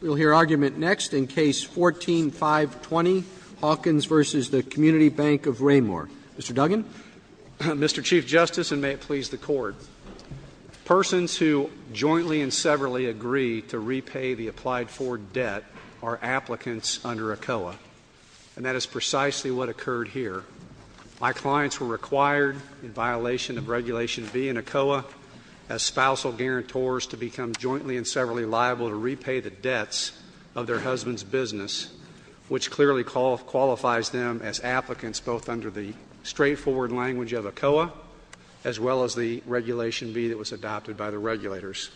We'll hear argument next in Case 14-520, Hawkins v. Community Bank of Raymore. Mr. Duggan. Mr. Chief Justice, and may it please the Court, persons who jointly and severally agree to repay the applied for debt are applicants under ACOA, and that is precisely what occurred here. My clients were required, in violation of Regulation B in ACOA, as spousal guarantors to become jointly and severally liable to repay the debts of their husband's business, which clearly qualifies them as applicants both under the straightforward language of ACOA as well as the Regulation B that was adopted by the regulators.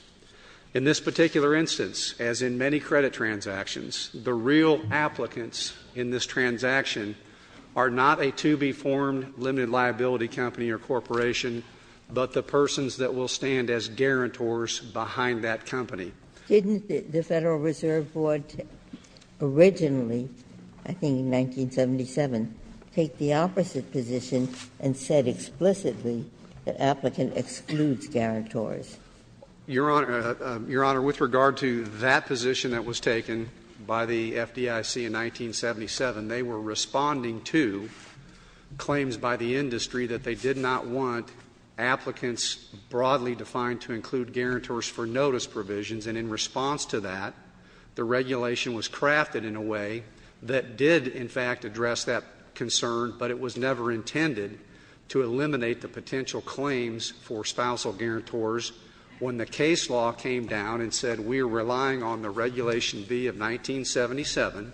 In this particular instance, as in many credit transactions, the real applicants in this transaction are not a to-be-formed limited liability company or corporation, but the persons that will stand as guarantors behind that company. Didn't the Federal Reserve Board originally, I think in 1977, take the opposite position and said explicitly that applicant excludes guarantors? Your Honor, with regard to that position that was taken by the FDIC in 1977, they were responding to claims by the industry that they did not want applicants broadly defined to include guarantors for notice provisions, and in response to that, the regulation was crafted in a way that did, in fact, address that concern, but it was never intended to eliminate the potential claims for spousal guarantors when the case law came down and said, we are relying on the Regulation B of 1977.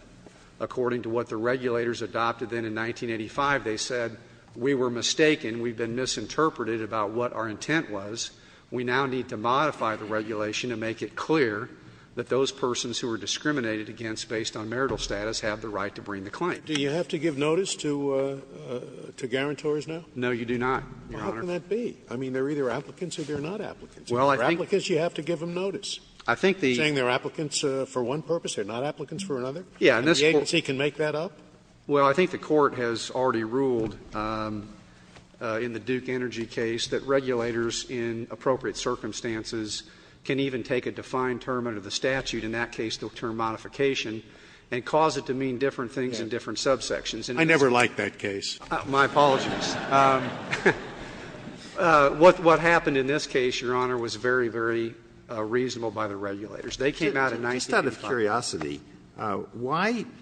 According to what the regulators adopted then in 1985, they said we were mistaken, we've been misinterpreted about what our intent was. We now need to modify the regulation to make it clear that those persons who were discriminated against based on marital status have the right to bring the claim. Do you have to give notice to guarantors now? No, you do not, Your Honor. Well, how can that be? I mean, they're either applicants or they're not applicants. Well, I think you have to give them notice. Saying they're applicants for one purpose, they're not applicants for another? Yeah. And the agency can make that up? Well, I think the Court has already ruled in the Duke Energy case that regulators in appropriate circumstances can even take a defined term under the statute, in that case the term modification, and cause it to mean different things in different subsections. I never liked that case. My apologies. What happened in this case, Your Honor, was very, very reasonable by the regulators. They came out in 1985. Just out of curiosity, why —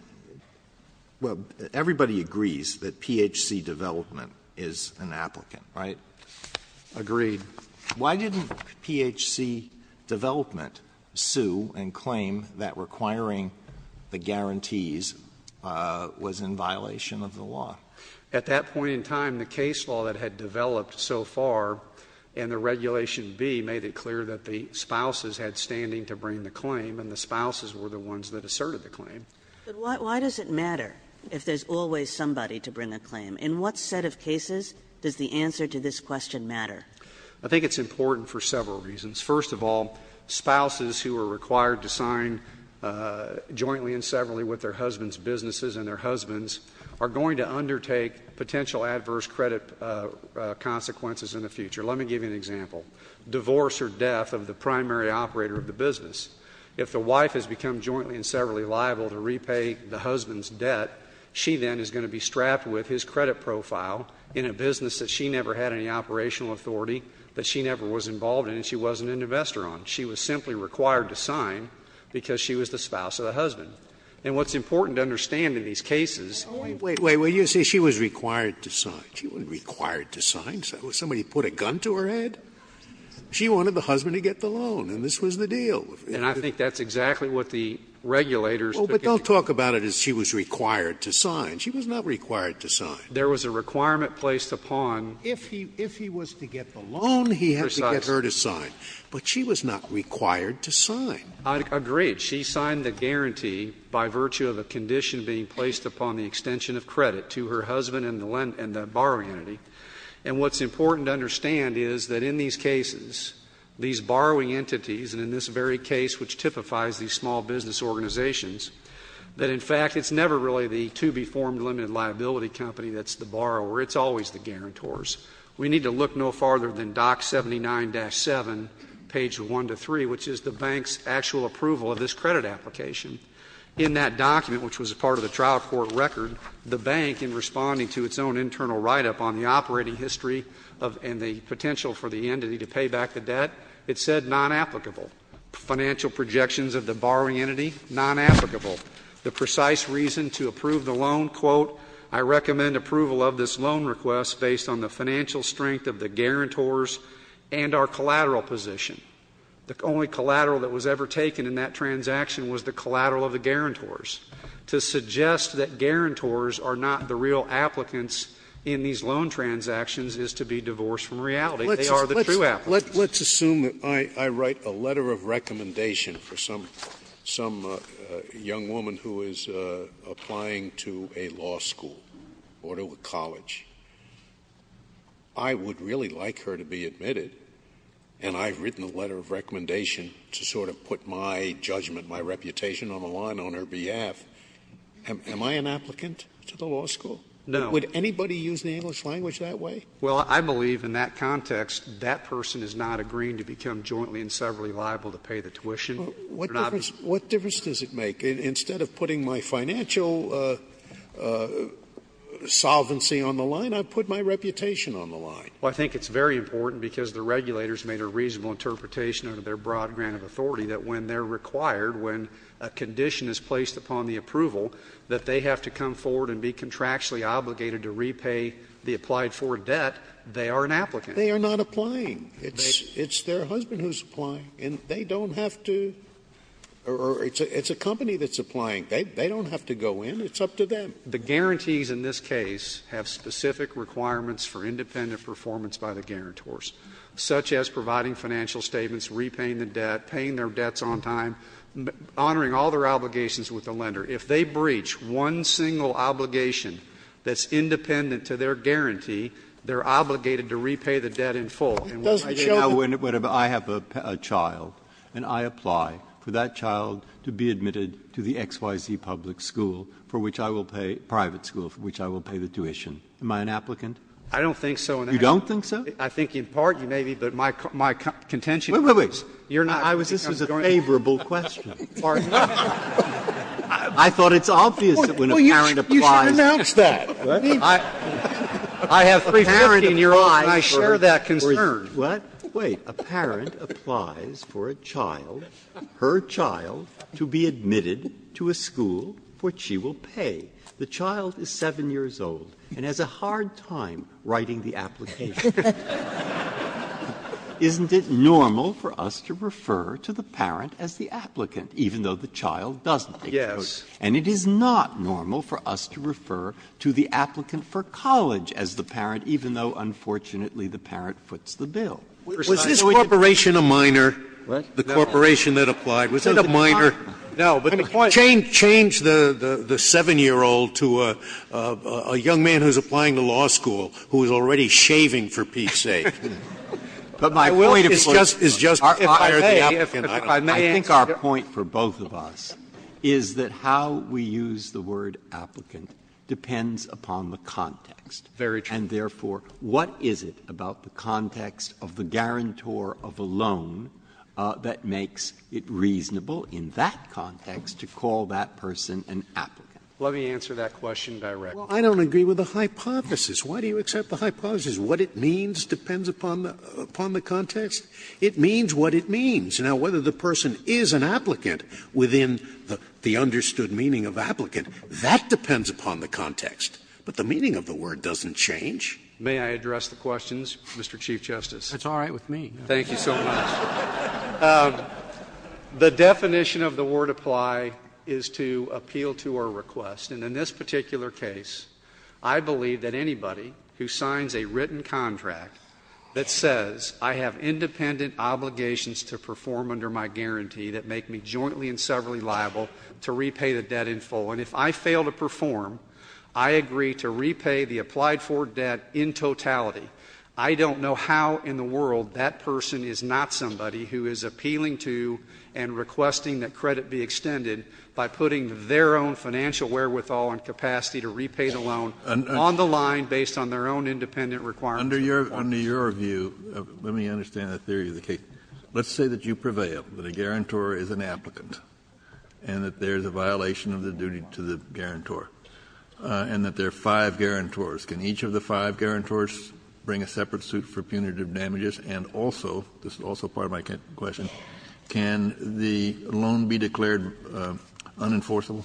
well, everybody agrees that PHC development is an applicant, right? Agreed. Why didn't PHC development sue and claim that requiring the guarantees was in violation of the law? At that point in time, the case law that had developed so far and the Regulation B made it clear that the spouses had standing to bring the claim, and the spouses were the ones that asserted the claim. But why does it matter if there's always somebody to bring a claim? In what set of cases does the answer to this question matter? I think it's important for several reasons. First of all, spouses who are required to sign jointly and severally with their husbands' businesses and their husbands are going to undertake potential adverse credit consequences in the future. Let me give you an example. Divorce or death of the primary operator of the business. If the wife has become jointly and severally liable to repay the husband's debt, she then is going to be strapped with his credit profile in a business that she never had any operational authority, that she never was involved in, and she wasn't an investor on. She was simply required to sign because she was the spouse of the husband. And what's important to understand in these cases is that when you say she was required to sign, she wasn't required to sign. Somebody put a gun to her head? She wanted the husband to get the loan, and this was the deal. And I think that's exactly what the regulators began to do. Well, but don't talk about it as she was required to sign. She was not required to sign. There was a requirement placed upon. If he was to get the loan, he had to get her to sign. But she was not required to sign. Agreed. She signed the guarantee by virtue of a condition being placed upon the extension of credit to her husband and the borrowing entity. And what's important to understand is that in these cases, these borrowing entities, and in this very case, which typifies these small business organizations, that, in fact, it's never really the to-be-formed limited liability company that's the borrower. It's always the guarantors. We need to look no farther than DOC 79-7, page 1 to 3, which is the bank's actual approval of this credit application. In that document, which was a part of the trial court record, the bank, in responding to its own internal write-up on the operating history and the potential for the entity to pay back the debt, it said, non-applicable. Financial projections of the borrowing entity, non-applicable. The precise reason to approve the loan, quote, I recommend approval of this loan request based on the financial strength of the guarantors and our collateral position. The only collateral that was ever taken in that transaction was the collateral of the guarantors. To suggest that guarantors are not the real applicants in these loan transactions is to be divorced from reality. They are the true applicants. Scalia. Let's assume that I write a letter of recommendation for some young woman who is applying to a law school or to a college. I would really like her to be admitted, and I've written a letter of recommendation to sort of put my judgment, my reputation on the line on her behalf. Am I an applicant to the law school? No. Would anybody use the English language that way? Well, I believe in that context that person is not agreeing to become jointly and severally liable to pay the tuition. What difference does it make? Instead of putting my financial solvency on the line, I put my reputation on the line. Well, I think it's very important because the regulators made a reasonable interpretation under their broad grant of authority that when they're required, when a condition is placed upon the approval, that they have to come forward and be contractually obligated to repay the applied for debt, they are an applicant. They are not applying. It's their husband who's applying. And they don't have to or it's a company that's applying. They don't have to go in. It's up to them. The guarantees in this case have specific requirements for independent performance by the guarantors, such as providing financial statements, repaying the debt, paying their debts on time, honoring all their obligations with the lender. If they breach one single obligation that's independent to their guarantee, they're obligated to repay the debt in full. And when I have a child and I apply for that child to be admitted to the XYZ public school for which I will pay, private school for which I will pay the tuition, am I an applicant? I don't think so. You don't think so? I think in part, maybe, but my contention is you're not. This is a favorable question. I thought it's obvious that when a parent applies. You should announce that. I have a parent in your eyes and I share that concern. What? Wait. A parent applies for a child, her child, to be admitted to a school for which she will pay. The child is 7 years old and has a hard time writing the application. Isn't it normal for us to refer to the parent as the applicant, even though the child doesn't? Yes. And it is not normal for us to refer to the applicant for college as the parent, even though, unfortunately, the parent foots the bill. Was this corporation a minor? What? The corporation that applied. Was it a minor? No, but change the 7-year-old to a young man who's applying to law school who is already shaving for Pete's sake. But my point is just to fire the applicant. I think our point for both of us is that how we use the word applicant depends upon the context. Very true. And, therefore, what is it about the context of the guarantor of a loan that makes it reasonable in that context to call that person an applicant? Let me answer that question directly. Well, I don't agree with the hypothesis. Why do you accept the hypothesis? What it means depends upon the context? It means what it means. Now, whether the person is an applicant within the understood meaning of applicant, that depends upon the context. But the meaning of the word doesn't change. May I address the questions, Mr. Chief Justice? It's all right with me. Thank you so much. The definition of the word apply is to appeal to a request. And in this particular case, I believe that anybody who signs a written contract that says I have independent obligations to perform under my guarantee that make me jointly and severally liable to repay the debt in full, and if I fail to perform, I agree to repay the applied for debt in totality. I don't know how in the world that person is not somebody who is appealing to and requesting that credit be extended by putting their own financial wherewithal and capacity to repay the loan on the line based on their own independent requirements. Under your view, let me understand the theory of the case. Let's say that you prevail, that a guarantor is an applicant, and that there is a violation of the duty to the guarantor, and that there are five guarantors. Can each of the five guarantors bring a separate suit for punitive damages? And also, this is also part of my question, can the loan be declared unenforceable?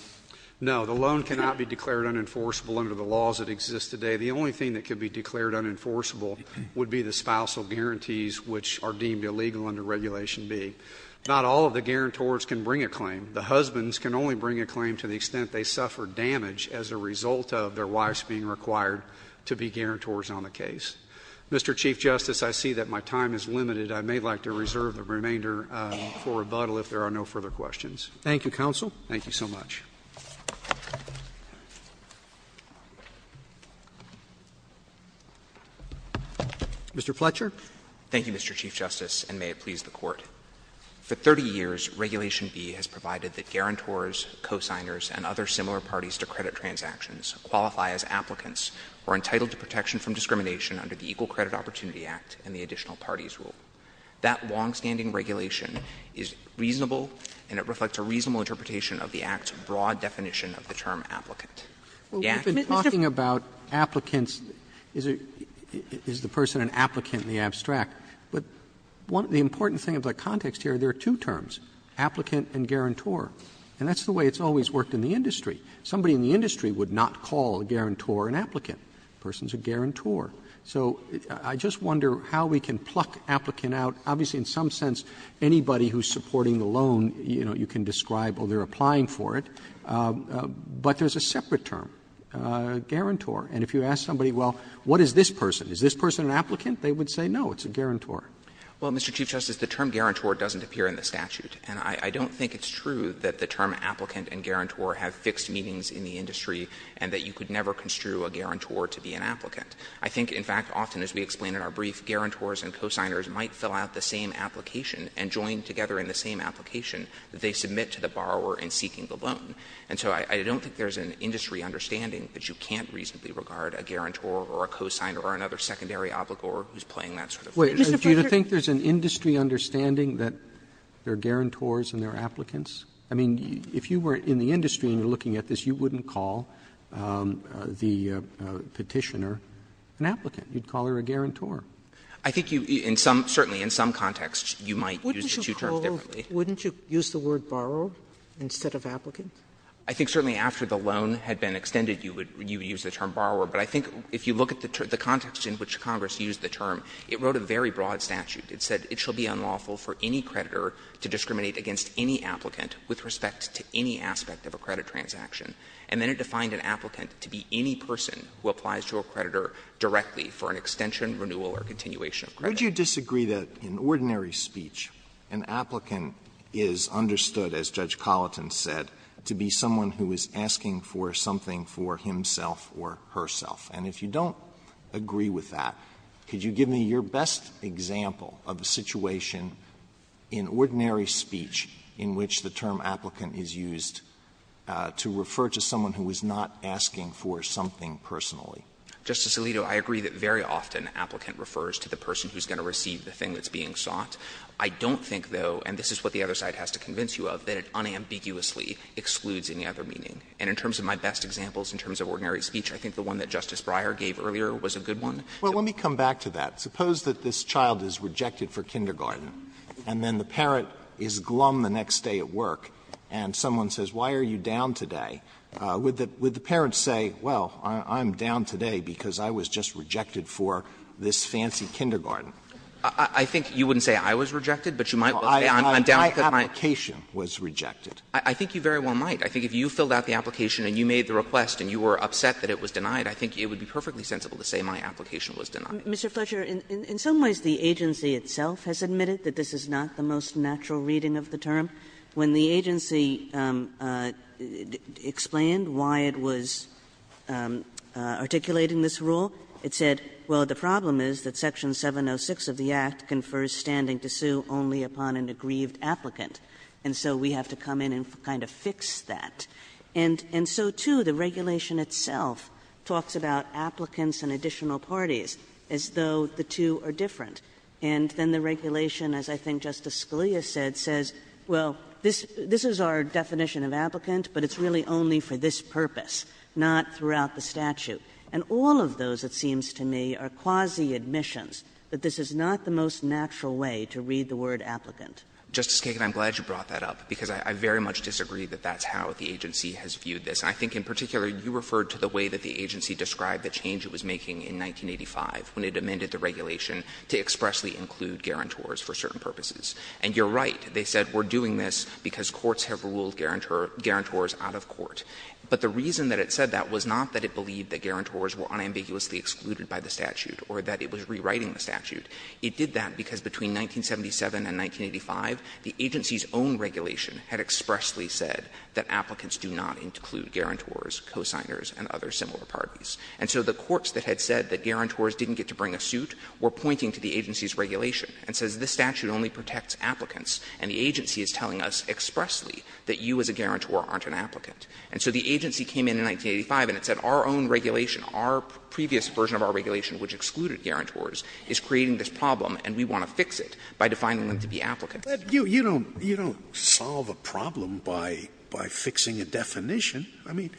No, the loan cannot be declared unenforceable under the laws that exist today. The only thing that could be declared unenforceable would be the spousal guarantees which are deemed illegal under Regulation B. Not all of the guarantors can bring a claim. The husbands can only bring a claim to the extent they suffer damage as a result of their wives being required to be guarantors on the case. Mr. Chief Justice, I see that my time is limited. I may like to reserve the remainder for rebuttal if there are no further questions. Thank you, counsel. Thank you so much. Mr. Fletcher. Thank you, Mr. Chief Justice, and may it please the Court. For 30 years, Regulation B has provided that guarantors, cosigners, and other similar parties to credit transactions qualify as applicants or are entitled to protection from discrimination under the Equal Credit Opportunity Act and the Additional Parties Rule. That longstanding regulation is reasonable, and it reflects a reasonable interpretation of the Act's broad definition of the term applicant. Mr. Fletcher. Roberts, is the person an applicant in the abstract? But the important thing about context here, there are two terms, applicant and guarantor, and that's the way it's always worked in the industry. Somebody in the industry would not call a guarantor an applicant. The person is a guarantor. So I just wonder how we can pluck applicant out. Obviously, in some sense, anybody who is supporting the loan, you know, you can describe the person as a guarantor. They're applying for it. But there's a separate term, guarantor. And if you ask somebody, well, what is this person? Is this person an applicant? They would say no, it's a guarantor. Well, Mr. Chief Justice, the term guarantor doesn't appear in the statute. And I don't think it's true that the term applicant and guarantor have fixed meanings in the industry and that you could never construe a guarantor to be an applicant. I think, in fact, often, as we explained in our brief, guarantors and cosigners might fill out the same application and join together in the same application that they submit to the borrower in seeking the loan. And so I don't think there's an industry understanding that you can't reasonably regard a guarantor or a cosigner or another secondary obligor who is playing that sort of role. Roberts, do you think there's an industry understanding that there are guarantors and there are applicants? I mean, if you were in the industry and you're looking at this, you wouldn't call the Petitioner an applicant. You'd call her a guarantor. I think you, in some, certainly in some contexts, you might use the two terms differently. Sotomayor, wouldn't you use the word borrower instead of applicant? I think, certainly, after the loan had been extended, you would use the term borrower. But I think if you look at the context in which Congress used the term, it wrote a very broad statute. It said it shall be unlawful for any creditor to discriminate against any applicant with respect to any aspect of a credit transaction. And then it defined an applicant to be any person who applies to a creditor directly for an extension, renewal, or continuation of credit. Alito, why would you disagree that in ordinary speech an applicant is understood, as Judge Colleton said, to be someone who is asking for something for himself or herself? And if you don't agree with that, could you give me your best example of a situation in ordinary speech in which the term applicant is used to refer to someone who is not asking for something personally? Justice Alito, I agree that very often applicant refers to the person who is going to receive the thing that's being sought. I don't think, though, and this is what the other side has to convince you of, that it unambiguously excludes any other meaning. And in terms of my best examples in terms of ordinary speech, I think the one that Justice Breyer gave earlier was a good one. Alito, let me come back to that. Suppose that this child is rejected for kindergarten, and then the parent is glum the next day at work, and someone says, why are you down today? Would the parent say, well, I'm down today because I was just rejected for this fancy kindergarten? I think you wouldn't say I was rejected, but you might say I'm down because I'm. My application was rejected. I think you very well might. I think if you filled out the application and you made the request and you were upset that it was denied, I think it would be perfectly sensible to say my application was denied. Mr. Fletcher, in some ways the agency itself has admitted that this is not the most natural reading of the term. When the agency explained why it was articulating this rule, it said, well, the problem is that section 706 of the Act confers standing to sue only upon an aggrieved applicant, and so we have to come in and kind of fix that. And so, too, the regulation itself talks about applicants and additional parties as though the two are different. And then the regulation, as I think Justice Scalia said, says, well, this is our definition of applicant, but it's really only for this purpose, not throughout the statute. And all of those, it seems to me, are quasi-admissions, that this is not the most natural way to read the word applicant. Mr. Fletcher. Justice Kagan, I'm glad you brought that up, because I very much disagree that that's how the agency has viewed this. And I think in particular you referred to the way that the agency described the change it was making in 1985 when it amended the regulation to expressly include guarantors for certain purposes. And you're right. They said we're doing this because courts have ruled guarantors out of court. But the reason that it said that was not that it believed that guarantors were unambiguously excluded by the statute or that it was rewriting the statute. It did that because between 1977 and 1985, the agency's own regulation had expressly said that applicants do not include guarantors, cosigners, and other similar parties. And so the courts that had said that guarantors didn't get to bring a suit were pointing to the agency's regulation and says this statute only protects applicants, and the agency is telling us expressly that you as a guarantor aren't an applicant. And so the agency came in in 1985 and it said our own regulation, our previous version of our regulation which excluded guarantors, is creating this problem, and we want to fix it by defining them to be applicants. Scalia, you don't solve a problem by fixing a definition. I mean,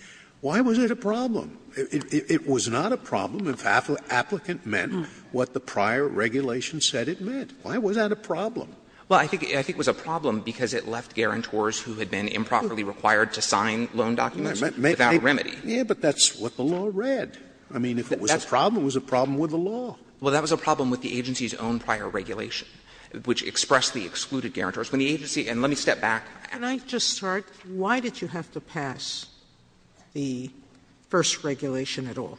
why was it a problem? It was not a problem if applicant meant what the prior regulation said it meant. Why was that a problem? Well, I think it was a problem because it left guarantors who had been improperly required to sign loan documents without remedy. Yes, but that's what the law read. I mean, if it was a problem, it was a problem with the law. Well, that was a problem with the agency's own prior regulation, which expressly excluded guarantors. When the agency – and let me step back. Sotomayor, can I just start? Why did you have to pass the first regulation at all?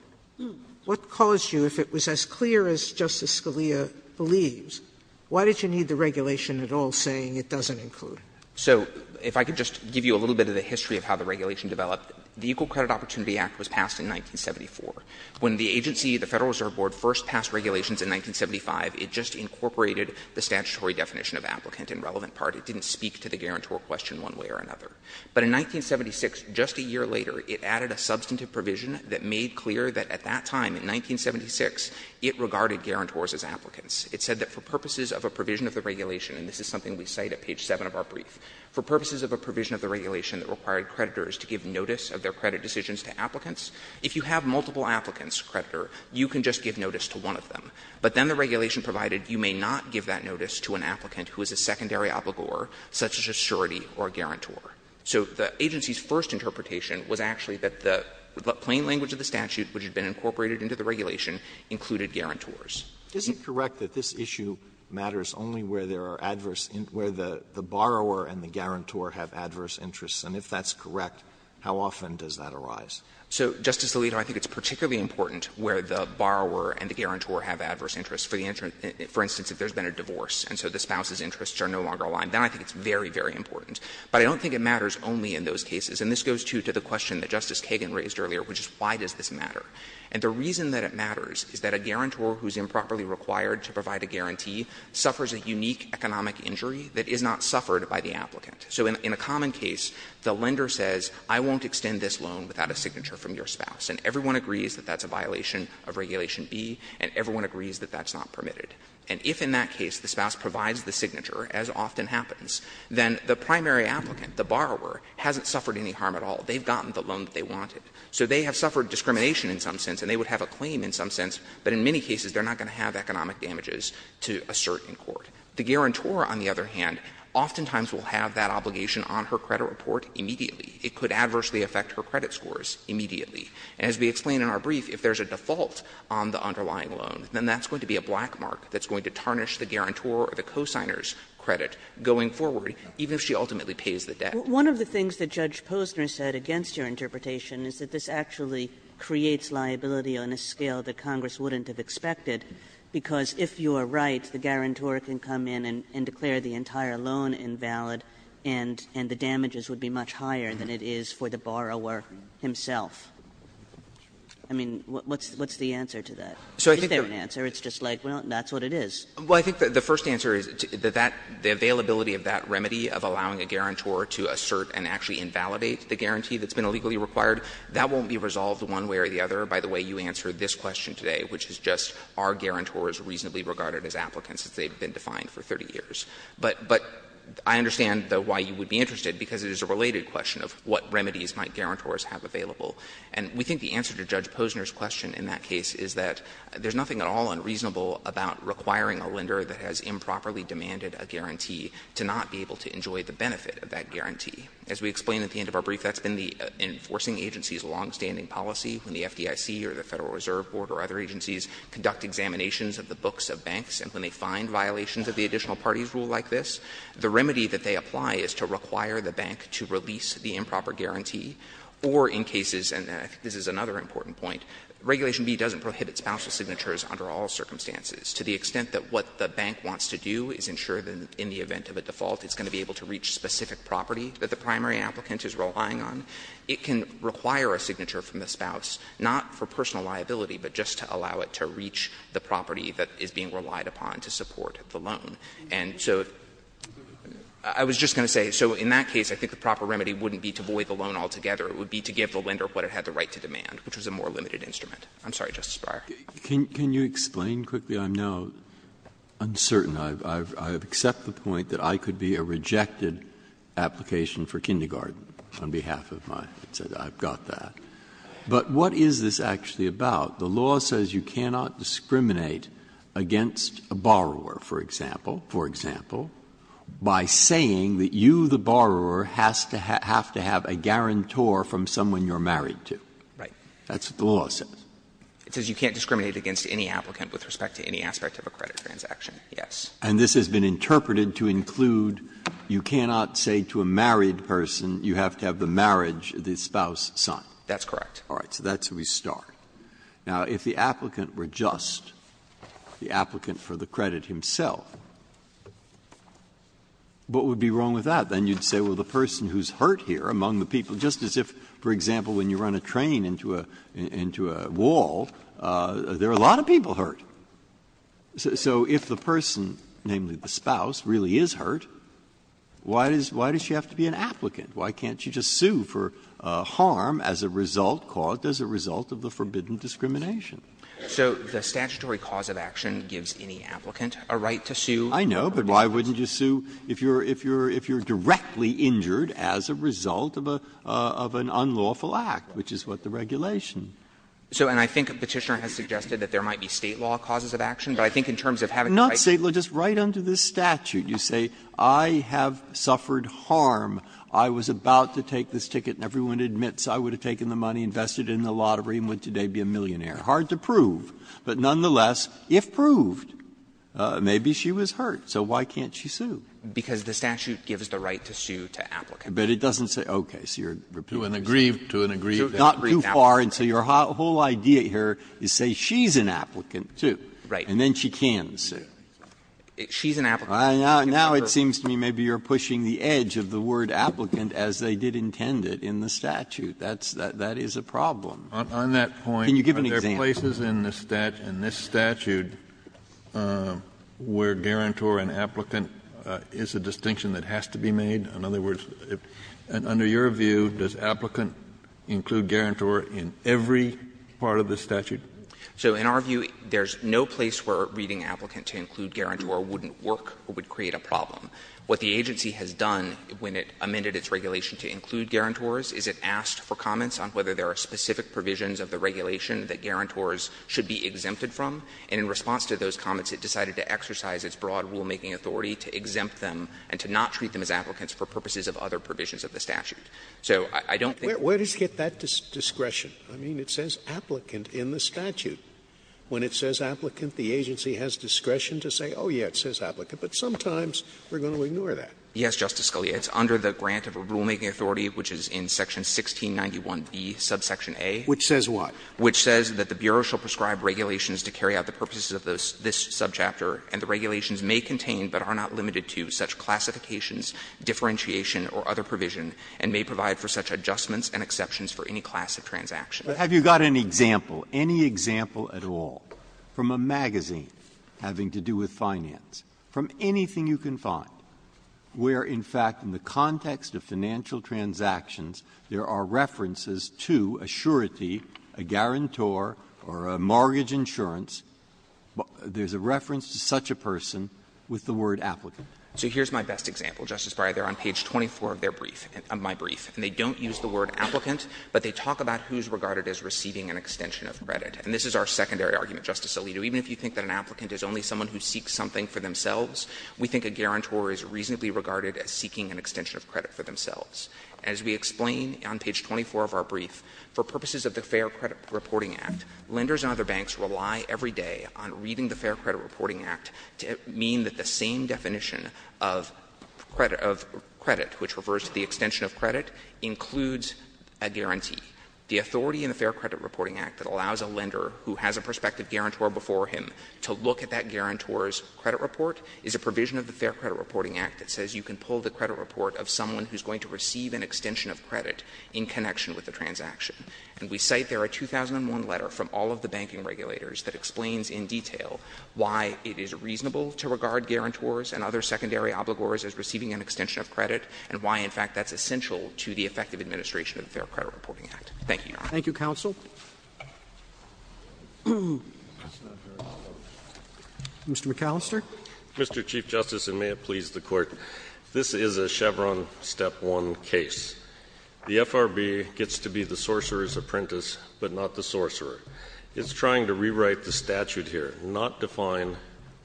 What caused you, if it was as clear as Justice Scalia believes, why did you need the regulation at all saying it doesn't include? So if I could just give you a little bit of the history of how the regulation developed. The Equal Credit Opportunity Act was passed in 1974. When the agency, the Federal Reserve Board, first passed regulations in 1975, it just incorporated the statutory definition of applicant and relevant part. It didn't speak to the guarantor question one way or another. But in 1976, just a year later, it added a substantive provision that made clear that at that time, in 1976, it regarded guarantors as applicants. It said that for purposes of a provision of the regulation, and this is something we cite at page 7 of our brief, for purposes of a provision of the regulation that required creditors to give notice of their credit decisions to applicants, if you have multiple applicants, creditor, you can just give notice to one of them. But then the regulation provided you may not give that notice to an applicant who is a secondary obligor, such as a surety or a guarantor. So the agency's first interpretation was actually that the plain language of the statute which had been incorporated into the regulation included guarantors. Alito, I think it's particularly important where the borrower and the guarantor have adverse interests. And if that's correct, how often does that arise? So, Justice Alito, I think it's particularly important where the borrower and the guarantor have adverse interests. For instance, if there's been a divorce and so the spouse's interests are no longer aligned, then I think it's very, very important. But I don't think it matters only in those cases. And this goes, too, to the question that Justice Kagan raised earlier, which is why does this matter? And the reason that it matters is that a guarantor who is improperly required to provide a guarantee suffers a unique economic injury that is not suffered by the applicant. So in a common case, the lender says, I won't extend this loan without a signature from your spouse, and everyone agrees that that's a violation of Regulation B, and everyone agrees that that's not permitted. And if in that case the spouse provides the signature, as often happens, then the primary applicant, the borrower, hasn't suffered any harm at all. They've gotten the loan that they wanted. So they have suffered discrimination in some sense and they would have a claim in some sense, but in many cases they're not going to have economic damages to assert in court. The guarantor, on the other hand, oftentimes will have that obligation on her credit report immediately. It could adversely affect her credit scores immediately. As we explained in our brief, if there is a default on the underlying loan, then that's going to be a black mark that's going to tarnish the guarantor or the co-signer's credit going forward, even if she ultimately pays the debt. Kagan Well, one of the things that Judge Posner said against your interpretation is that this actually creates liability on a scale that Congress wouldn't have expected, because if you are right, the guarantor can come in and declare the entire loan invalid and the damages would be much higher than it is for the borrower himself. I mean, what's the answer to that? Is there an answer? It's just like, well, that's what it is. Goldstein, I think the first answer is that the availability of that remedy of allowing a guarantor to assert and actually invalidate the guarantee that's been illegally required, that won't be resolved one way or the other by the way you answer this question today, which is just are guarantors reasonably regarded as applicants since they've been defined for 30 years. But I understand, though, why you would be interested, because it is a related question of what remedies might guarantors have available. And we think the answer to Judge Posner's question in that case is that there's nothing at all unreasonable about requiring a lender that has improperly demanded a guarantee to not be able to enjoy the benefit of that guarantee. As we explained at the end of our brief, that's been the enforcing agency's longstanding policy. When the FDIC or the Federal Reserve Board or other agencies conduct examinations of the books of banks and when they find violations of the additional parties rule like this, the remedy that they apply is to require the bank to release the improper guarantee. Or in cases, and I think this is another important point, Regulation B doesn't prohibit spousal signatures under all circumstances, to the extent that what the bank wants to do is ensure that in the event of a default it's going to be able to reach specific property that the primary applicant is relying on. It can require a signature from the spouse, not for personal liability, but just to allow it to reach the property that is being relied upon to support the loan. And so I was just going to say, so in that case, I think the proper remedy wouldn't be to void the loan altogether. It would be to give the lender what it had the right to demand, which was a more limited instrument. I'm sorry, Justice Breyer. Breyer, can you explain quickly? I'm now uncertain. I've accepted the point that I could be a rejected application for kindergarten on behalf of my ex-husband. I've got that. But what is this actually about? The law says you cannot discriminate against a borrower, for example, for example, by saying that you, the borrower, has to have to have a guarantor from someone you're married to. Right. That's what the law says. It says you can't discriminate against any applicant with respect to any aspect of a credit transaction, yes. And this has been interpreted to include you cannot say to a married person you have to have the marriage of the spouse's son. That's correct. All right. So that's where we start. Now, if the applicant were just the applicant for the credit himself, what would be wrong with that? Then you'd say, well, the person who's hurt here among the people, just as if, for example, when you run a train into a wall, there are a lot of people hurt. So if the person, namely the spouse, really is hurt, why does she have to be an applicant? Why can't you just sue for harm as a result, caused as a result of the forbidden discrimination? So the statutory cause of action gives any applicant a right to sue. I know, but why wouldn't you sue if you're directly injured as a result of an unlawful act, which is what the regulation. So, and I think Petitioner has suggested that there might be State law causes of action, but I think in terms of having the right to sue. Not State law, just right under this statute. You say, I have suffered harm. I was about to take this ticket, and everyone admits I would have taken the money, invested it in the lottery, and would today be a millionaire. Hard to prove, but nonetheless, if proved, maybe she was hurt, so why can't she sue? Because the statute gives the right to sue to applicants. But it doesn't say, okay, so you're repeating yourself. To an aggrieved, to an aggrieved applicant. Not too far, and so your whole idea here is say she's an applicant, too. Right. And then she can sue. She's an applicant. Now it seems to me maybe you're pushing the edge of the word applicant as they did intend it in the statute. That's the – that is a problem. On that point, are there places in the statute, in this statute, where guarantor and applicant is a distinction that has to be made? In other words, under your view, does applicant include guarantor in every part of the statute? So in our view, there's no place where reading applicant to include guarantor wouldn't work or would create a problem. What the agency has done when it amended its regulation to include guarantors is it asked for comments on whether there are specific provisions of the regulation that guarantors should be exempted from, and in response to those comments, it decided to exercise its broad rulemaking authority to exempt them and to not treat them as applicants for purposes of other provisions of the statute. So I don't think that's the case. Scalia. Where does it get that discretion? I mean, it says applicant in the statute. When it says applicant, the agency has discretion to say, oh, yeah, it says applicant, but sometimes we're going to ignore that. Yes, Justice Scalia. It's under the grant of a rulemaking authority, which is in section 1691B, subsection A. Which says what? Which says that the Bureau shall prescribe regulations to carry out the purposes of this subchapter, and the regulations may contain but are not limited to such classifications, differentiation, or other provision, and may provide for such adjustments and exceptions for any class of transaction. Breyer. Have you got an example, any example at all, from a magazine having to do with finance, from anything you can find, where, in fact, in the context of financial transactions, there are references to a surety, a guarantor, or a mortgage insurance, there's a reference to such a person with the word applicant? So here's my best example, Justice Breyer. They're on page 24 of their brief, of my brief, and they don't use the word applicant, but they talk about who's regarded as receiving an extension of credit. And this is our secondary argument, Justice Alito. Even if you think that an applicant is only someone who seeks something for themselves, we think a guarantor is reasonably regarded as seeking an extension of credit for themselves. As we explain on page 24 of our brief, for purposes of the Fair Credit Reporting Act, lenders and other banks rely every day on reading the Fair Credit Reporting Act to mean that the same definition of credit, which refers to the extension of credit, includes a guarantee. The authority in the Fair Credit Reporting Act that allows a lender who has a prospective guarantor before him to look at that guarantor's credit report is a provision of the Fair Credit Reporting Act that says you can pull the credit report of someone who's going to receive an extension of credit in connection with a transaction. And we cite there a 2001 letter from all of the banking regulators that explains in detail why it is reasonable to regard guarantors and other secondary obligors as receiving an extension of credit and why, in fact, that's essential to the effective administration of the Fair Credit Reporting Act. Thank you, Your Honor. Roberts. Thank you, counsel. Mr. McAllister. Mr. Chief Justice, and may it please the Court, this is a Chevron step one case. The FRB gets to be the sorcerer's apprentice, but not the sorcerer. It's trying to rewrite the statute here, not define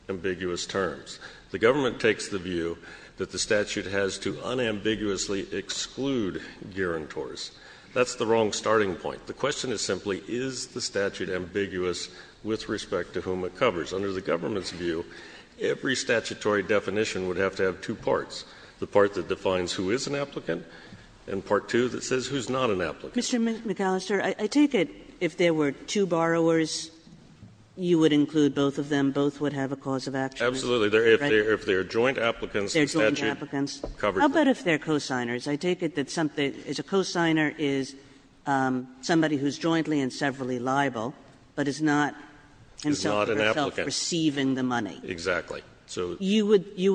ambiguous terms. The government takes the view that the statute has to unambiguously exclude guarantors. That's the wrong starting point. The question is simply, is the statute ambiguous with respect to whom it covers? Under the government's view, every statutory definition would have to have two parts, the part that defines who is an applicant and part two that says who's not an applicant. Mr. McAllister, I take it if there were two borrowers, you would include both of them, both would have a cause of action? Absolutely. If they're joint applicants, the statute covers them. How about if they're cosigners? I take it that something as a cosigner is somebody who's jointly and severally liable, but is not himself receiving the money. Is not an applicant. Exactly. So you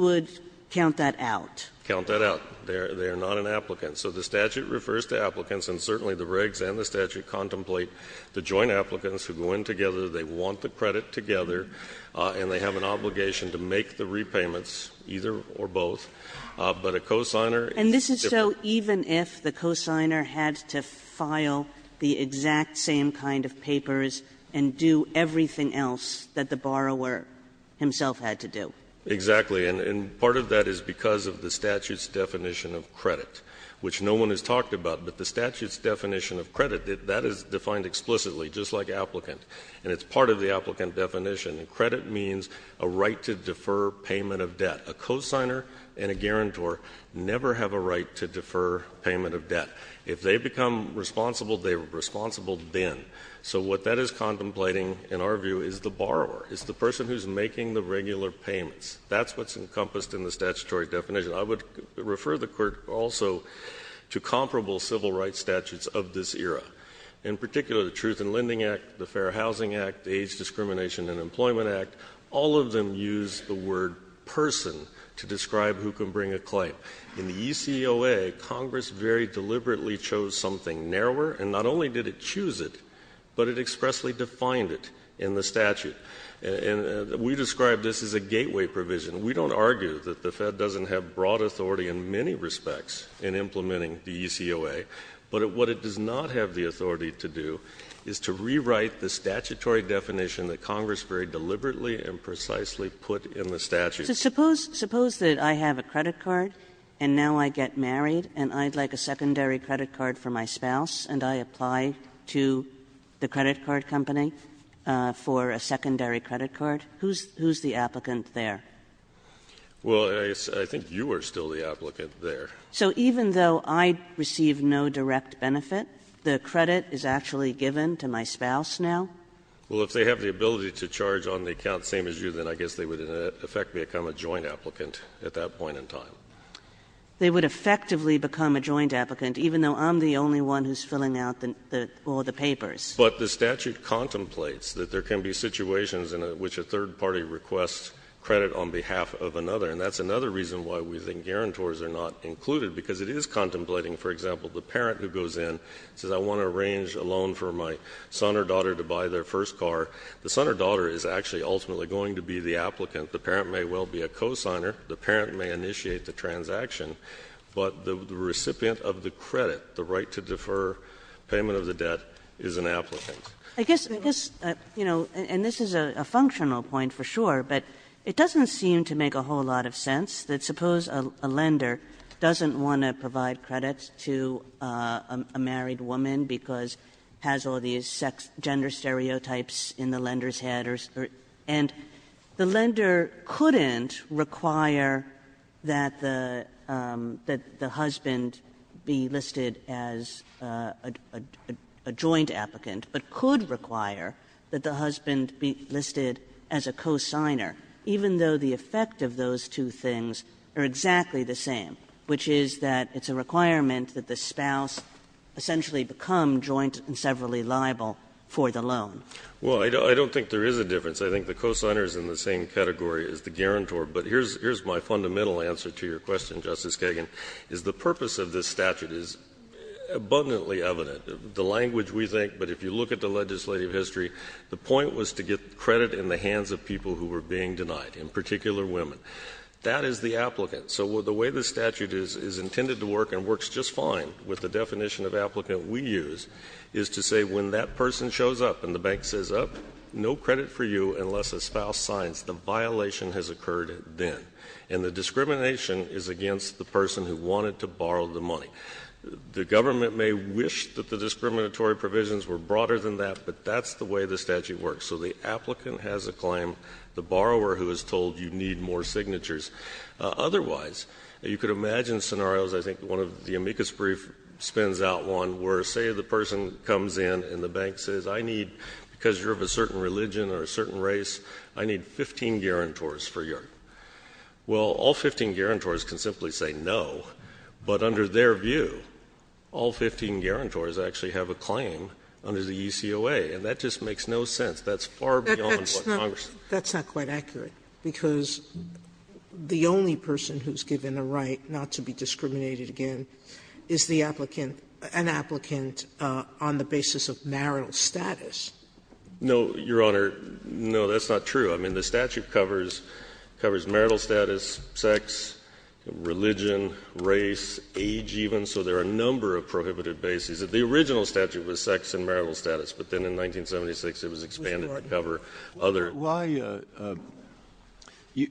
would count that out. Count that out. They are not an applicant. So the statute refers to applicants, and certainly the regs and the statute contemplate the joint applicants who go in together, they want the credit together, and they have an obligation to make the repayments, either or both. But a cosigner is different. And this is so even if the cosigner had to file the exact same kind of papers and do everything else that the borrower himself had to do? Exactly. And part of that is because of the statute's definition of credit, which no one has talked about, but the statute's definition of credit, that is defined explicitly, just like applicant. And it's part of the applicant definition. And credit means a right to defer payment of debt. A cosigner and a guarantor never have a right to defer payment of debt. If they become responsible, they are responsible then. So what that is contemplating, in our view, is the borrower, is the person who's making the regular payments. That's what's encompassed in the statutory definition. I would refer the Court also to comparable civil rights statutes of this era. In particular, the Truth in Lending Act, the Fair Housing Act, age discrimination and Employment Act, all of them use the word person to describe who can bring a claim. In the ECOA, Congress very deliberately chose something narrower, and not only did it choose it, but it expressly defined it in the statute. And we describe this as a gateway provision. We don't argue that the Fed doesn't have broad authority in many respects in implementing the ECOA, but what it does not have the authority to do is to rewrite the statutory definition that Congress very deliberately and precisely put in the statute. Suppose that I have a credit card, and now I get married, and I'd like a secondary credit card for my spouse, and I apply to the credit card company for a secondary credit card, who's the applicant there? Well, I think you are still the applicant there. So even though I receive no direct benefit, the credit is actually given to my spouse now? Well, if they have the ability to charge on the account same as you, then I guess they would effectively become a joint applicant at that point in time. They would effectively become a joint applicant, even though I'm the only one who's filling out all the papers. But the statute contemplates that there can be situations in which a third party requests credit on behalf of another. And that's another reason why we think guarantors are not included, because it is contemplating, for example, the parent who goes in, says I want to arrange a loan for my son or daughter to buy their first car. The son or daughter is actually ultimately going to be the applicant. The parent may well be a cosigner. The parent may initiate the transaction. But the recipient of the credit, the right to defer payment of the debt, is an applicant. I guess, you know, and this is a functional point for sure, but it doesn't seem to make a whole lot of sense that suppose a lender doesn't want to provide credit to a married woman because has all these sex, gender stereotypes in the lender's head, and the lender couldn't require that the husband be listed as a joint applicant, but could require that the husband be listed as a cosigner, even though the effect of those two things are exactly the same, which is that it's a requirement that the spouse essentially become joint and severally liable for the loan. Well, I don't think there is a difference. I think the cosigner is in the same category as the guarantor. But here's my fundamental answer to your question, Justice Kagan. Is the purpose of this statute is abundantly evident. The language we think, but if you look at the legislative history, the point was to get credit in the hands of people who were being denied, in particular women. That is the applicant. So the way the statute is intended to work, and works just fine with the definition of applicant we use, is to say when that person shows up and the bank says, no credit for you unless a spouse signs, the violation has occurred then. And the discrimination is against the person who wanted to borrow the money. The government may wish that the discriminatory provisions were broader than that, but that's the way the statute works. So the applicant has a claim, the borrower who is told you need more signatures. Otherwise, you could imagine scenarios, I think one of the amicus brief spends out one, where say the person comes in and the bank says, I need, because you're of a certain religion or a certain race, I need 15 guarantors for your, well, all 15 guarantors can simply say no. But under their view, all 15 guarantors actually have a claim under the ECOA, and that just makes no sense. That's far beyond what Congress. Sotomayor That's not quite accurate, because the only person who's given a right not to be discriminated against is the applicant, an applicant on the basis of marital status. No, Your Honor, no, that's not true. I mean, the statute covers marital status, sex, religion, race, age even. So there are a number of prohibited bases. The original statute was sex and marital status, but then in 1976 it was expanded to cover other. Breyer,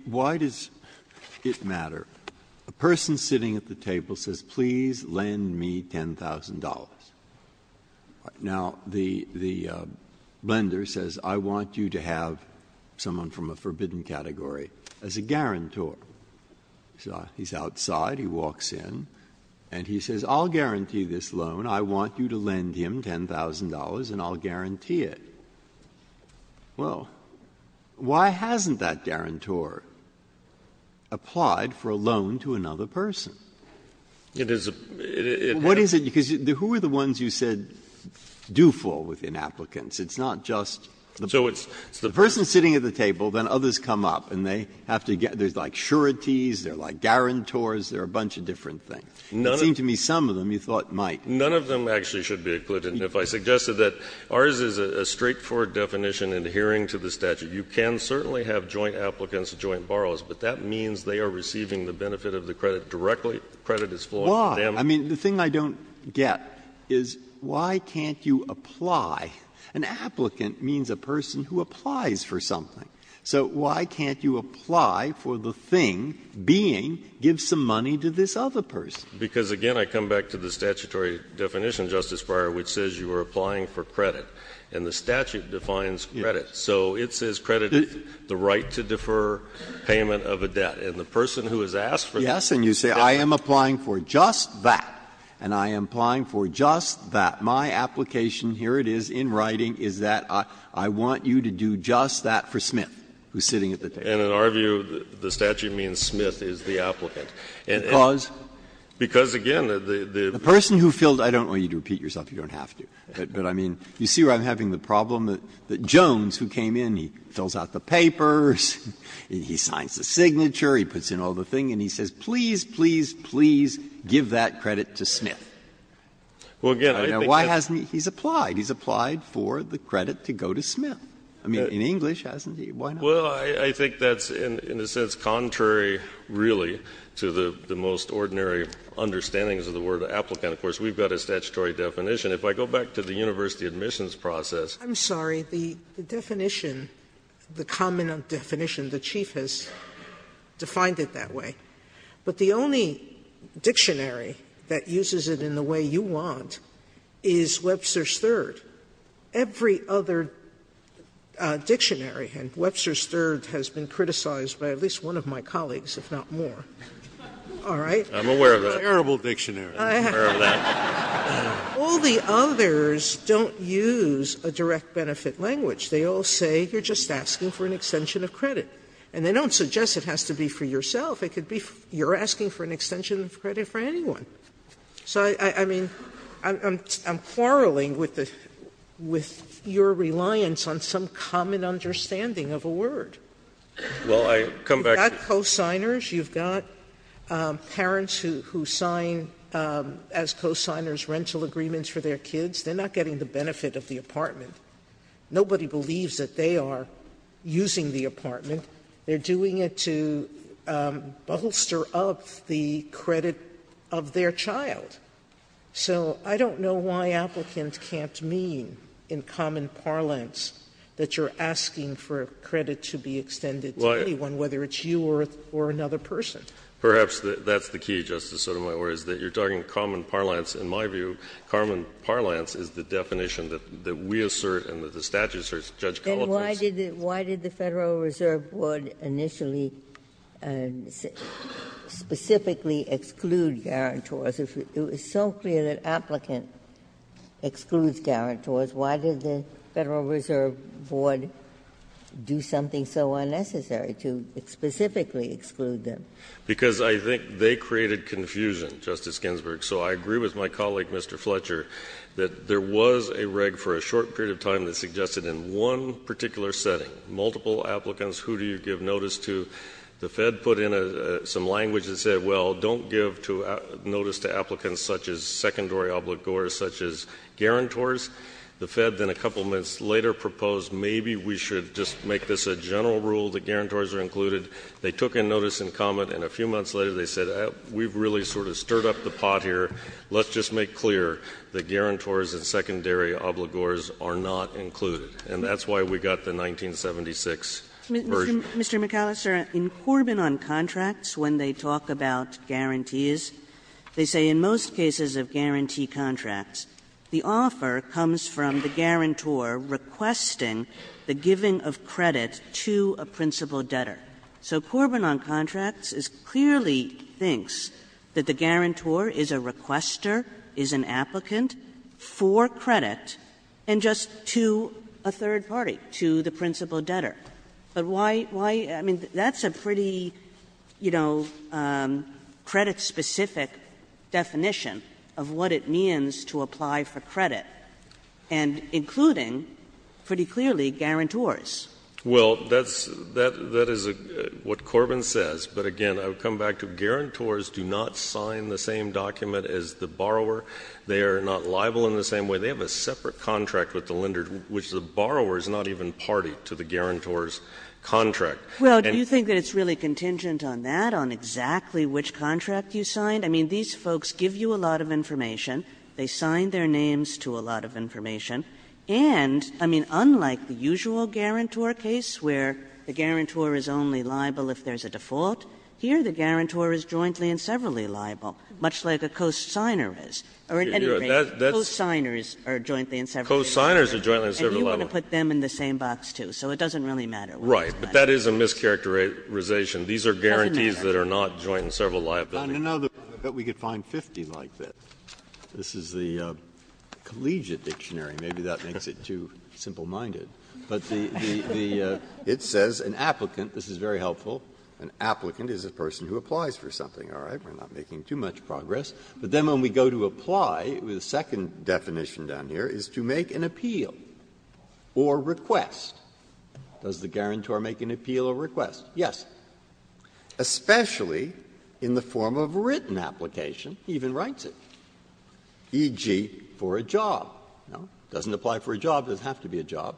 why does it matter? A person sitting at the table says, please lend me $10,000. Now, the lender says, I want you to have someone from a forbidden category as a guarantor. He's outside, he walks in, and he says, I'll guarantee this loan. I want you to lend him $10,000 and I'll guarantee it. Well, why hasn't that guarantor applied for a loan to another person? It is a, it has to be a guarantor. Breyer, what is it, because who are the ones you said do fall within applicants? It's not just the person sitting at the table, then others come up, and they have to get, there's like sureties, there are like guarantors, there are a bunch of different things. It seemed to me some of them you thought might. None of them actually should be included. If I suggested that ours is a straightforward definition adhering to the statute, you can certainly have joint applicants, joint borrowers, but that means they are receiving the benefit of the credit directly, the credit is flowing to them. Why? I mean, the thing I don't get is why can't you apply? An applicant means a person who applies for something. So why can't you apply for the thing, being, give some money to this other person? Because, again, I come back to the statutory definition, Justice Breyer, which says you are applying for credit, and the statute defines credit. So it says credit is the right to defer payment of a debt. And the person who has asked for the debt. Breyer, and you say I am applying for just that, and I am applying for just that. My application, here it is in writing, is that I want you to do just that for Smith, who is sitting at the table. And in our view, the statute means Smith is the applicant. Because? Because, again, the person who filled the debt. I don't want you to repeat yourself. You don't have to. But I mean, you see where I'm having the problem? Jones, who came in, he fills out the papers, and he signs the signature, he puts in all the things, and he says, please, please, please give that credit to Smith. Now, why hasn't he? He's applied. He's applied for the credit to go to Smith. I mean, in English, hasn't he? Why not? Well, I think that's in a sense contrary, really, to the most ordinary understandings of the word applicant. Of course, we've got a statutory definition. If I go back to the university admissions process. Sotomayor, I'm sorry, the definition, the common definition, the Chief has defined it that way. But the only dictionary that uses it in the way you want is Webster's Third. Every other dictionary, and Webster's Third has been criticized by at least one of my colleagues, if not more. All right? I'm aware of that. Terrible dictionary. I'm aware of that. All the others don't use a direct benefit language. They all say you're just asking for an extension of credit. And they don't suggest it has to be for yourself. It could be you're asking for an extension of credit for anyone. So, I mean, I'm quarreling with your reliance on some common understanding of a word. You've got co-signers. You've got parents who sign, as co-signers, rental agreements for their kids. They're not getting the benefit of the apartment. Nobody believes that they are using the apartment. They're doing it to bolster up the credit of their child. So I don't know why applicants can't mean in common parlance that you're asking for credit to be extended to anyone, whether it's you or another person. Perhaps that's the key, Justice Sotomayor, is that you're talking common parlance. In my view, common parlance is the definition that we assert and that the statute asserts. Judge Kala place. Ginsburg. And why did the Federal Reserve Board initially specifically exclude guarantors? It was so clear that applicant excludes guarantors. Why did the Federal Reserve Board do something so unnecessary to specifically exclude them? Because I think they created confusion, Justice Ginsburg. So I agree with my colleague, Mr. Fletcher, that there was a reg for a short period of time that suggested in one particular setting, multiple applicants, who do you give notice to? The Fed put in some language that said, well, don't give notice to applicants such as secondary obligors, such as guarantors. The Fed then a couple of minutes later proposed maybe we should just make this a general rule that guarantors are included. They took a notice and comment, and a few months later they said, we've really sort of stirred up the pot here. Let's just make clear that guarantors and secondary obligors are not included. And that's why we got the 1976 version. Mr. McAllister, in Corbin on contracts, when they talk about guarantees, they say that in most cases of guarantee contracts, the offer comes from the guarantor requesting the giving of credit to a principal debtor. So Corbin on contracts clearly thinks that the guarantor is a requester, is an applicant for credit, and just to a third party, to the principal debtor. But why — I mean, that's a pretty, you know, credit-specific definition of what it means to apply for credit, and including, pretty clearly, guarantors. Well, that's — that is what Corbin says, but again, I would come back to guarantors do not sign the same document as the borrower. They are not liable in the same way. They have a separate contract with the lender, which the borrower is not even party to the guarantor's contract. And you think that it's really contingent on that, on exactly which contract you signed? I mean, these folks give you a lot of information, they sign their names to a lot of information, and, I mean, unlike the usual guarantor case where the guarantor is only liable if there's a default, here the guarantor is jointly and severally liable, much like a cosigner is. Or at any rate, cosigners are jointly and severally liable. And you want to put them in the same box, too. So it doesn't really matter where the lender is. Right. But that is a mischaracterization. These are guarantees that are not jointly and severally liable. I don't know that we could find 50 like that. This is the collegiate dictionary. Maybe that makes it too simple-minded. But the — it says an applicant, this is very helpful, an applicant is a person who applies for something, all right? We're not making too much progress. But then when we go to apply, the second definition down here is to make an appeal or request. Does the guarantor make an appeal or request? Yes. Especially in the form of written application, he even writes it, e.g., for a job. No? It doesn't apply for a job. It doesn't have to be a job.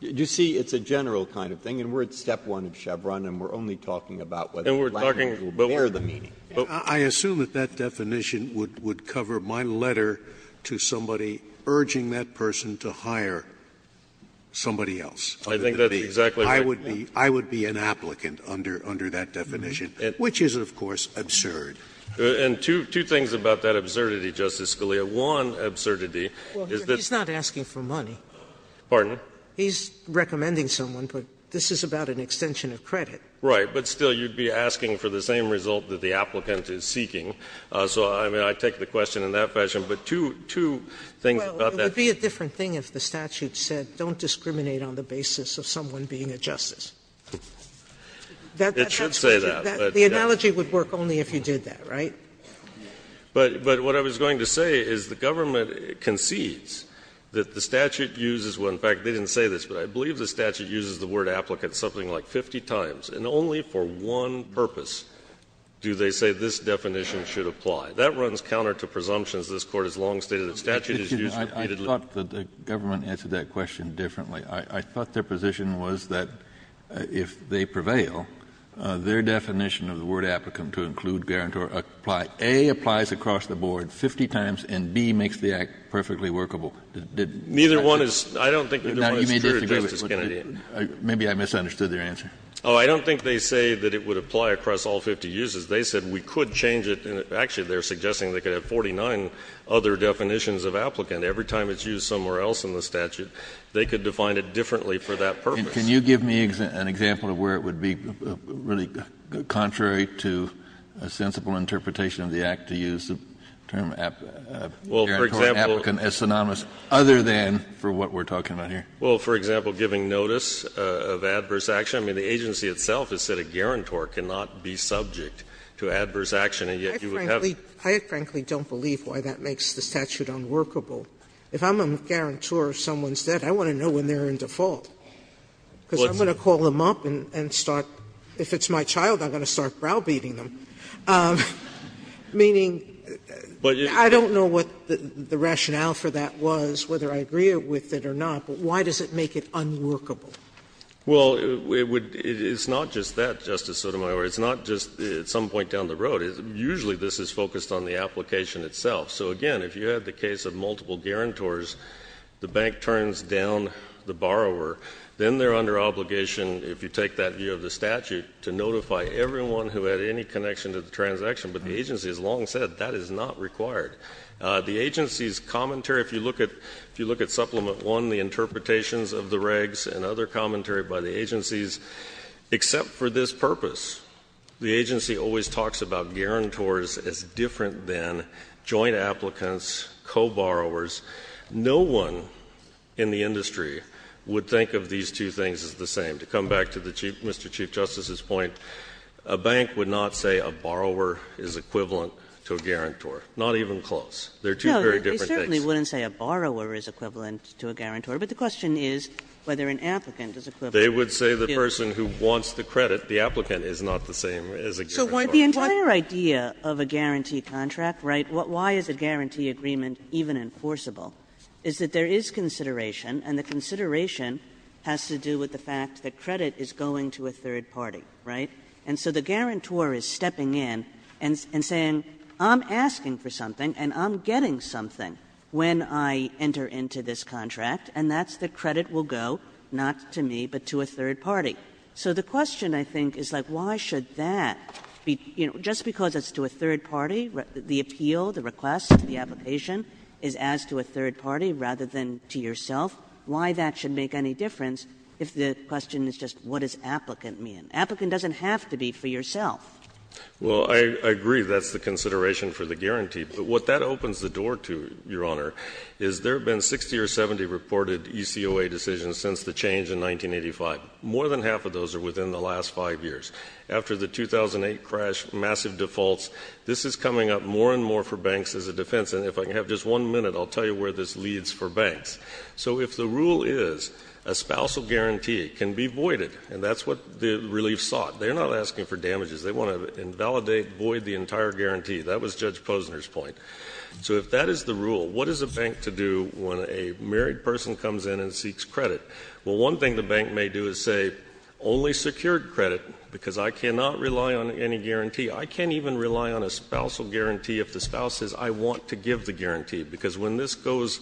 You see, it's a general kind of thing. And we're at step one of Chevron, and we're only talking about whether landowners will bear the meaning. Scalia. Scalia, I assume that that definition would cover my letter to somebody urging that person to hire somebody else. I think that's exactly right. I would be an applicant under that definition, which is, of course, absurd. And two things about that absurdity, Justice Scalia. One absurdity is that he's not asking for money. Pardon? He's recommending someone, but this is about an extension of credit. Right. But still, you'd be asking for the same result that the applicant is seeking. So I mean, I take the question in that fashion. But two things about that. Well, it would be a different thing if the statute said don't discriminate on the basis of someone being a justice. It should say that. The analogy would work only if you did that, right? But what I was going to say is the government concedes that the statute uses one of the words, in fact, they didn't say this, but I believe the statute uses the word applicant something like 50 times. And only for one purpose do they say this definition should apply. That runs counter to presumptions. This Court has long stated that statute is used repeatedly. I thought that the government answered that question differently. I thought their position was that if they prevail, their definition of the word applicant to include, guarantee, or apply, A, applies across the board 50 times, and B, makes the Act perfectly workable. Neither one is — I don't think either one is true, Justice Kennedy. Maybe I misunderstood their answer. Oh, I don't think they say that it would apply across all 50 uses. They said we could change it. Actually, they are suggesting they could have 49 other definitions of applicant every time it's used somewhere else in the statute. They could define it differently for that purpose. Can you give me an example of where it would be really contrary to a sensible interpretation of the Act to use the term applicant as synonymous? Other than for what we're talking about here. Well, for example, giving notice of adverse action. I mean, the agency itself has said a guarantor cannot be subject to adverse action, and yet you would have it. I frankly don't believe why that makes the statute unworkable. If I'm a guarantor of someone's death, I want to know when they're in default. Because I'm going to call them up and start — if it's my child, I'm going to start browbeating them. Meaning, I don't know what the rationale for that was, whether I agree with it or not. But why does it make it unworkable? Well, it would — it's not just that, Justice Sotomayor. It's not just at some point down the road. Usually this is focused on the application itself. So again, if you had the case of multiple guarantors, the bank turns down the borrower. Then they're under obligation, if you take that view of the statute, to notify everyone who had any connection to the transaction. But the agency has long said that is not required. The agency's commentary — if you look at Supplement 1, the interpretations of the regs and other commentary by the agencies, except for this purpose, the agency always talks about guarantors as different than joint applicants, co-borrowers. No one in the industry would think of these two things as the same. To come back to the Chief — Mr. Chief Justice's point, a bank would not say a borrower is equivalent to a guarantor, not even close. They're two very different things. No, they certainly wouldn't say a borrower is equivalent to a guarantor. But the question is whether an applicant is equivalent to a guarantor. They would say the person who wants the credit, the applicant, is not the same as a guarantor. So why — The entire idea of a guarantee contract, right, why is a guarantee agreement even enforceable, is that there is consideration, and the consideration has to do with the fact that credit is going to a third party, right? And so the guarantor is stepping in and saying, I'm asking for something and I'm getting something when I enter into this contract, and that's the credit will go not to me, but to a third party. So the question, I think, is, like, why should that be — you know, just because it's to a third party, the appeal, the request, the application is asked to a third party rather than to yourself, why that should make any difference if the question is just what does applicant mean? Applicant doesn't have to be for yourself. Well, I agree that's the consideration for the guarantee. But what that opens the door to, Your Honor, is there have been 60 or 70 reported ECOA decisions since the change in 1985. More than half of those are within the last five years. After the 2008 crash, massive defaults, this is coming up more and more for banks as a defense. And if I can have just one minute, I'll tell you where this leads for banks. So if the rule is a spousal guarantee can be voided, and that's what the relief sought, they're not asking for damages. They want to invalidate, void the entire guarantee. That was Judge Posner's point. So if that is the rule, what is a bank to do when a married person comes in and seeks credit? Well, one thing the bank may do is say, only secured credit, because I cannot rely on any guarantee. I can't even rely on a spousal guarantee if the spouse says, I want to give the guarantee. Because when this goes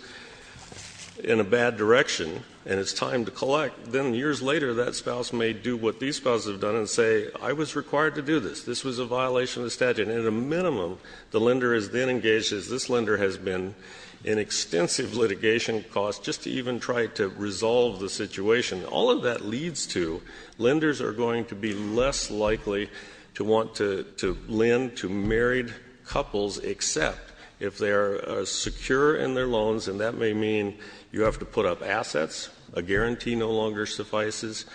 in a bad direction and it's time to collect, then years later, that spouse may do what these spouses have done and say, I was required to do this. This was a violation of the statute. And at a minimum, the lender is then engaged, as this lender has been, in extensive litigation costs just to even try to resolve the situation. All of that leads to lenders are going to be less likely to want to lend to married couples, except if they are secure in their loans, and that may mean you have to put up assets, a guarantee no longer suffices,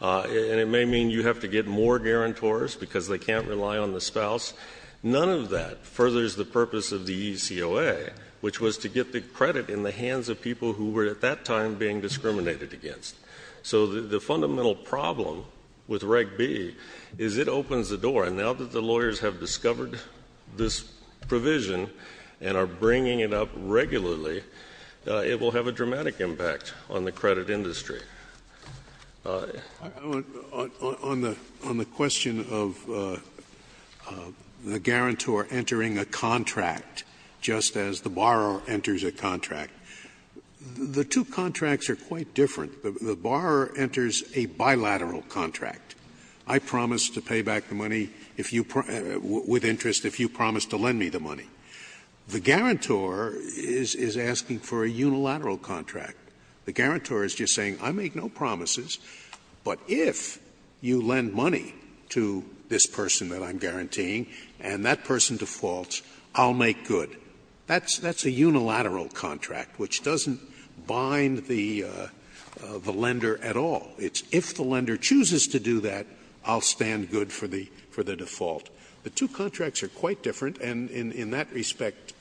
and it may mean you have to get more guarantors because they can't rely on the spouse. None of that furthers the purpose of the ECOA, which was to get the credit in the hands of people who were at that time being discriminated against. So the fundamental problem with Reg B is it opens the door. And now that the lawyers have discovered this provision and are bringing it up regularly, it will have a dramatic impact on the credit industry. Scalia. On the question of the guarantor entering a contract just as the borrower enters a contract, the two contracts are quite different. The borrower enters a bilateral contract. I promise to pay back the money if you – with interest if you promise to lend me the money. The guarantor is asking for a unilateral contract. The guarantor is just saying I make no promises, but if you lend money to this person that I'm guaranteeing and that person defaults, I'll make good. That's a unilateral contract, which doesn't bind the lender at all. It's if the lender chooses to do that, I'll stand good for the default. The two contracts are quite different, and in that respect,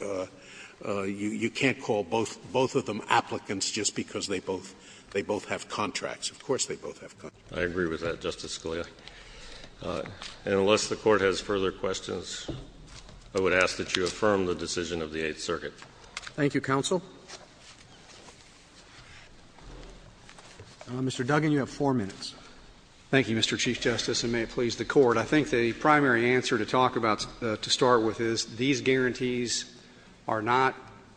you can't call both of them applicants just because they both have contracts. Of course they both have contracts. I agree with that, Justice Scalia. And unless the Court has further questions, I would ask that you affirm the decision of the Eighth Circuit. Roberts. Thank you, counsel. Mr. Duggan, you have four minutes. Thank you, Mr. Chief Justice, and may it please the Court. I think the primary answer to talk about to start with is these guarantees are not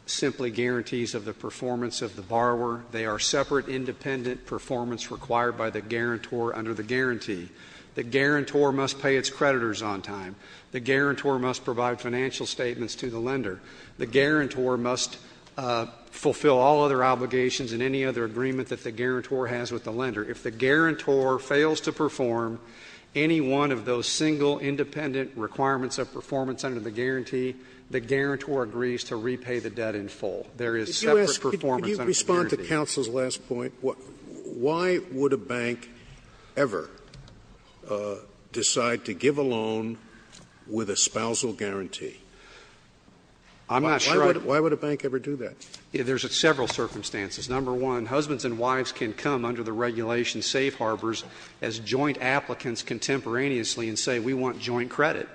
simply guarantees of the performance of the borrower. They are separate, independent performance required by the guarantor under the guarantee. The guarantor must pay its creditors on time. The guarantor must provide financial statements to the lender. The guarantor must fulfill all other obligations and any other agreement that the guarantor has with the lender. If the guarantor fails to perform any one of those single independent requirements of performance under the guarantee, the guarantor agrees to repay the debt in full. There is separate performance under the guarantee. Why would a bank ever decide to give a loan with a spousal guarantee? I'm not sure I would. Why would a bank ever do that? There's several circumstances. Number one, husbands and wives can come under the regulation safe harbors as joint applicants contemporaneously and say, we want joint credit.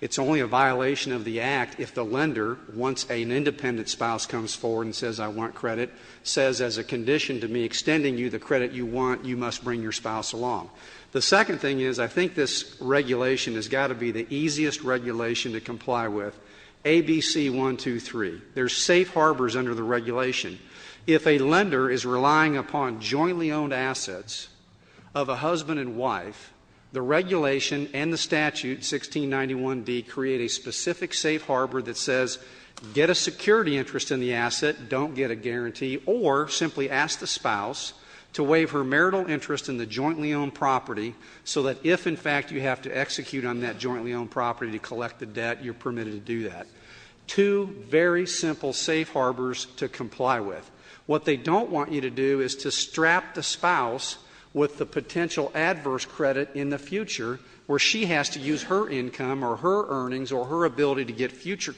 It's only a violation of the Act if the lender, once an independent spouse comes forward and says, I want credit, says as a condition to me extending you the credit you want, you must bring your spouse along. The second thing is, I think this regulation has got to be the easiest regulation to comply with. A, B, C, 1, 2, 3. There's safe harbors under the regulation. If a lender is relying upon jointly owned assets of a husband and wife, the regulation and the statute, 1691B, create a specific safe harbor that says, get a security interest in the asset, don't get a guarantee, or simply ask the spouse to waive her marital interest in the jointly owned property so that if, in fact, you have to execute on that jointly owned property to collect the debt, you're permitted to do that. Two very simple safe harbors to comply with. What they don't want you to do is to strap the spouse with the potential adverse credit in the future where she has to use her income or her earnings or her ability to get future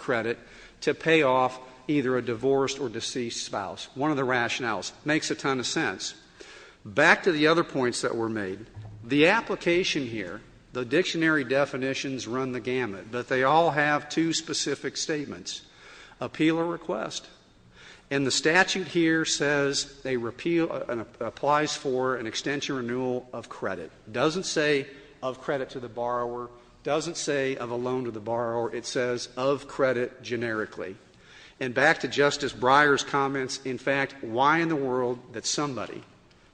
to pay off either a divorced or deceased spouse. One of the rationales. Makes a ton of sense. Back to the other points that were made. The application here, the dictionary definitions run the gamut, but they all have two specific statements. Appeal or request. And the statute here says they repeal and applies for an extension renewal of credit. Doesn't say of credit to the borrower. Doesn't say of a loan to the borrower. It says of credit generically. And back to Justice Breyer's comments. In fact, why in the world that somebody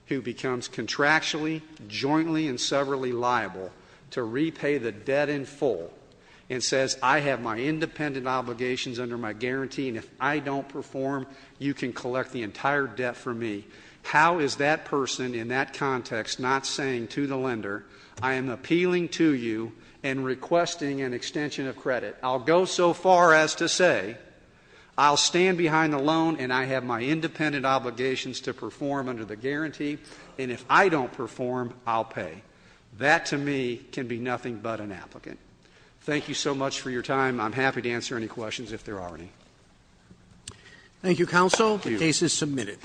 who becomes contractually, jointly and severally liable to repay the debt in full and says, I have my independent obligations under my guarantee, and if I don't perform, you can collect the entire debt for me. How is that person in that context not saying to the lender, I am appealing to you and requesting an extension of credit. I'll go so far as to say I'll stand behind the loan and I have my independent obligations to perform under the guarantee. And if I don't perform, I'll pay. That to me can be nothing but an applicant. Thank you so much for your time. I'm happy to answer any questions if there are any. Thank you, counsel. The case is submitted.